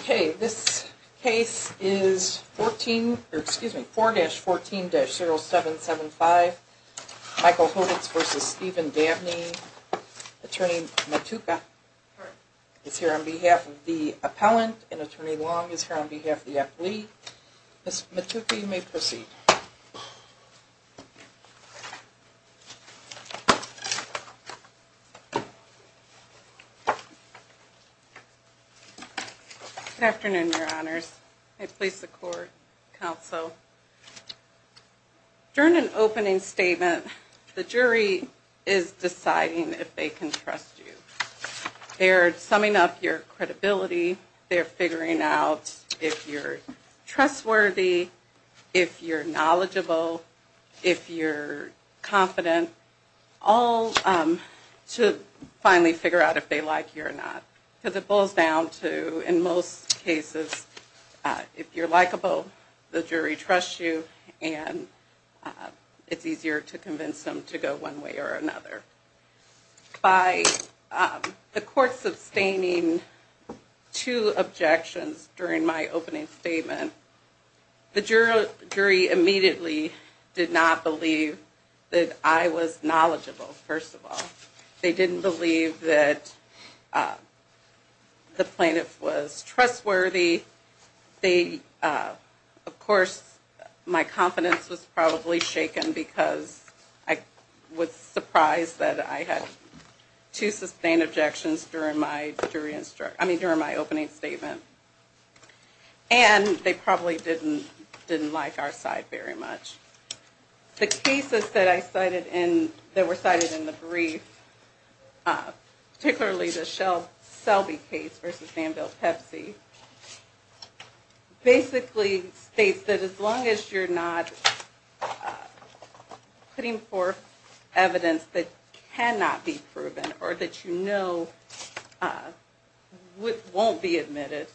4-14-0775 Michael Hodits v. Stephen Dabney Attorney Matuka is here on behalf of the appellant and attorney long is here on behalf of the appellate. Ms. Matuka you may proceed. Good afternoon your honors. I please support counsel. During an opening statement the jury is deciding if they can trust you. They're summing up your credibility, they're figuring out if you're trustworthy, if you're knowledgeable, if you're confident, all to finally figure out if they like you or not. Because it boils down to in most cases if you're likable the jury trusts you and it's easier to convince them to go one way or another. By the court sustaining two objections during my opening statement the jury immediately did not believe that I was knowledgeable first of all. They didn't believe that the plaintiff was trustworthy. Of course my confidence was probably shaken because I was surprised that I had two sustained objections during my opening statement. And they probably didn't like our side very much. The cases that were cited in the brief, particularly the Selby case v. Danville-Pepsi basically states that as long as you're not putting forth evidence that cannot be proven or that you know won't be admitted,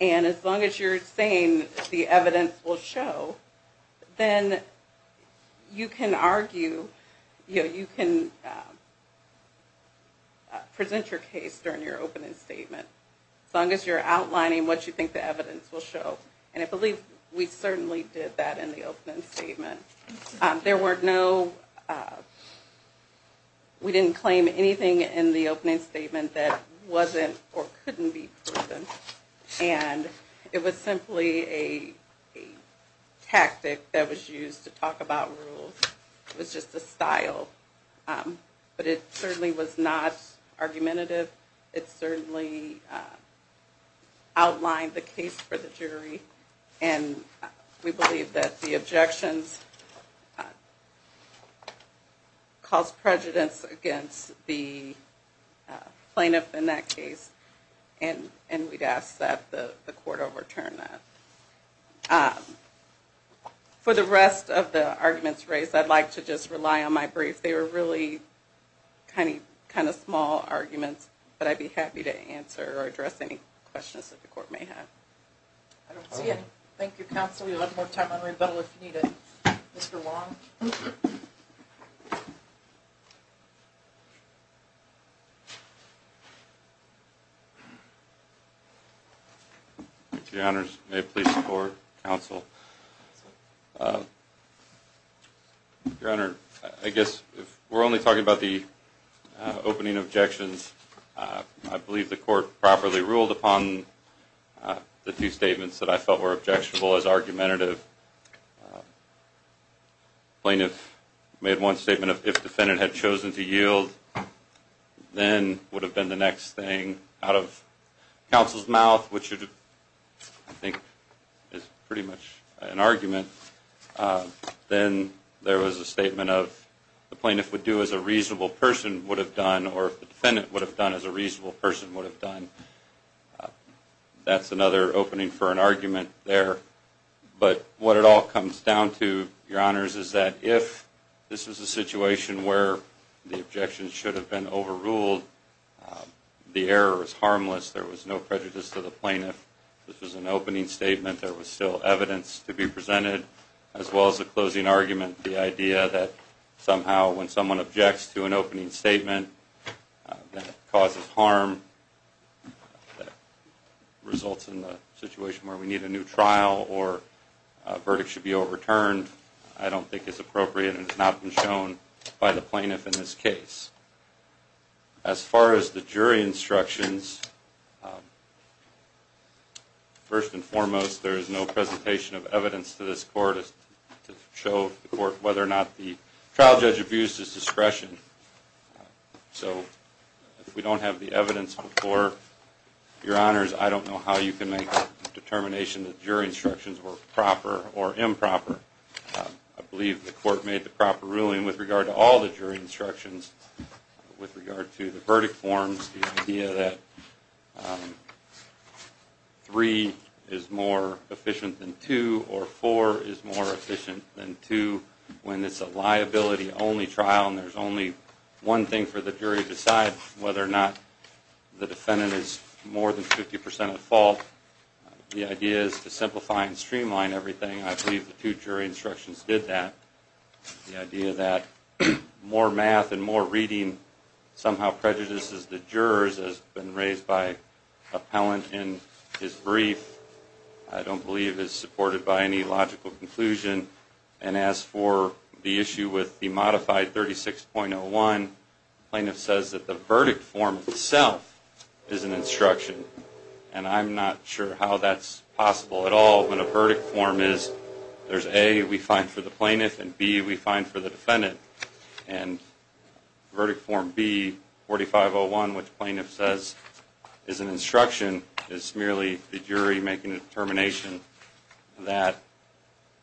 and as long as you're saying the evidence will show, then you can argue, you can present your case during your opening statement. As long as you're outlining what you think the evidence will show and I believe we certainly did that in the opening statement. There were no, we didn't claim anything in the opening statement that wasn't or couldn't be proven. And it was simply a tactic that was used to talk about rules. It was just a style. But it certainly was not argumentative. It certainly outlined the case for the jury and we believe that the objections caused prejudice against the plaintiff in that case and we'd ask that the court overturn that. For the rest of the arguments raised, I'd like to just rely on my brief. They were really kind of small arguments, but I'd be happy to answer or address any questions that the court may have. I don't see any. Thank you counsel. We'll have more time on rebuttal if you need it. Mr. Wong? Your honors, may it please the court, counsel. Your honor, I guess if we're only talking about the opening objections, I believe the court properly ruled upon the two statements that I felt were objectionable as argumentative. The plaintiff made one statement of if the defendant had chosen to yield, then would have been the next thing out of counsel's mouth, which I think is pretty much an argument. Then there was a statement of the plaintiff would do as a reasonable person would have done or the defendant would have done as a reasonable person would have done. That's another opening for an argument there. But what it all comes down to, your honors, is that if this was a situation where the objections should have been overruled, the error was harmless. There was no prejudice to the plaintiff. This was an opening statement. There was still evidence to be presented as well as the closing argument. The idea that somehow when someone objects to an opening statement that causes harm, that results in a situation where we need a new trial or a verdict should be overturned, I don't think is appropriate and has not been shown by the plaintiff in this case. As far as the jury instructions, first and foremost, there is no presentation of evidence to this court to show the court whether or not the trial judge abused his discretion. So if we don't have the evidence before, your honors, I don't know how you can make a determination that jury instructions were proper or improper. I believe the court made the proper ruling with regard to all the jury instructions with regard to the verdict forms, the idea that 3 is more efficient than 2 or 4 is more efficient than 2 when it's a liability-only trial and there's only one thing for the jury to decide, whether or not the defendant is more than 50% at fault. The idea is to simplify and streamline everything. I believe the two jury instructions did that. The idea that more math and more reading somehow prejudices the jurors has been raised by an appellant in his brief, I don't believe is supported by any logical conclusion. And as for the issue with the modified 36.01, the plaintiff says that the verdict form itself is an instruction. And I'm not sure how that's possible at all when a verdict form is, there's A, we find for the plaintiff, and B, we find for the defendant. And verdict form B, 45.01, which the plaintiff says is an instruction, is merely the jury making a determination that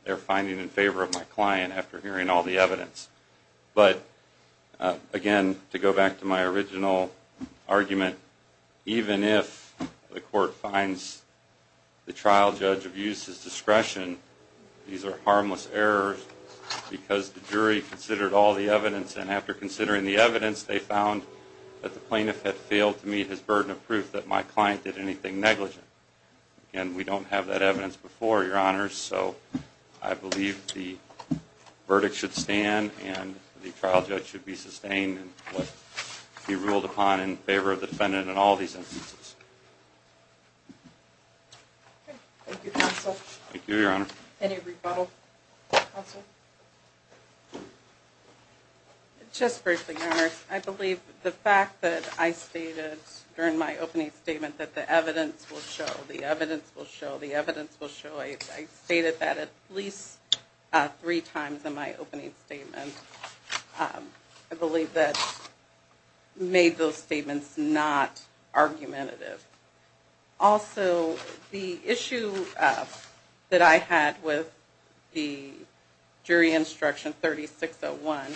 they're finding in favor of my client after hearing all the evidence. But again, to go back to my original argument, even if the court finds the trial judge of use's discretion, these are harmless errors because the jury considered all the evidence and after considering the evidence, they found that the plaintiff had failed to meet his burden of proof that my client did anything negligent. And we don't have that evidence before, Your Honors, so I believe the verdict should stand and the trial judge should be sustained in what he ruled upon in favor of the defendant in all these instances. Thank you, Your Honor. Any rebuttal? Counsel? Just briefly, Your Honors, I believe the fact that I stated during my opening statement that the evidence will show, the evidence will show, the evidence will show, I stated that at least three times in my opening statement. I believe that made those statements not argumentative. Also, the issue that I had with the jury instruction, 36.01,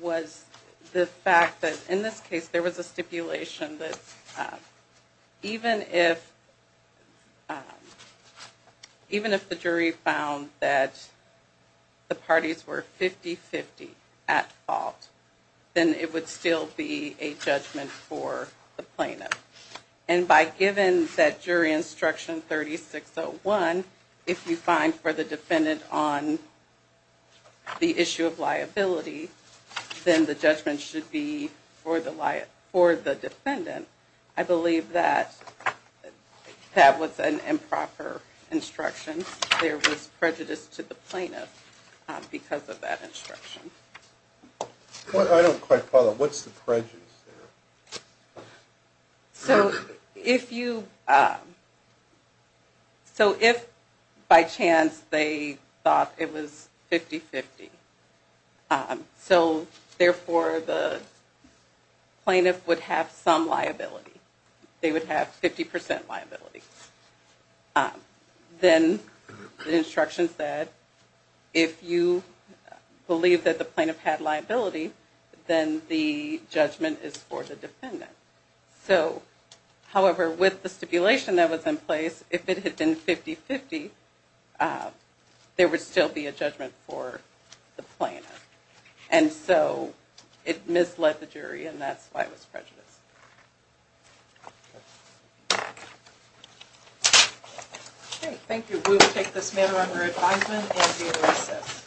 was the fact that in this case there was a stipulation that even if the jury found that the parties were 50-50 at fault, then it would still be a judgment for the plaintiff. But given that jury instruction, 36.01, if you find for the defendant on the issue of liability, then the judgment should be for the defendant. I believe that that was an improper instruction. There was prejudice to the plaintiff because of that instruction. I don't quite follow. What's the prejudice there? So, if you, so if by chance they thought it was 50-50, so therefore the plaintiff would have some liability, they would have 50% liability, then the instruction said, if you believe that the plaintiff had liability, then the judgment is for the defendant. So, however, with the stipulation that was in place, if it had been 50-50, there would still be a judgment for the plaintiff. And so, it misled the jury and that's why it was prejudice. Okay, thank you. We will take this matter under advisement and be at recess.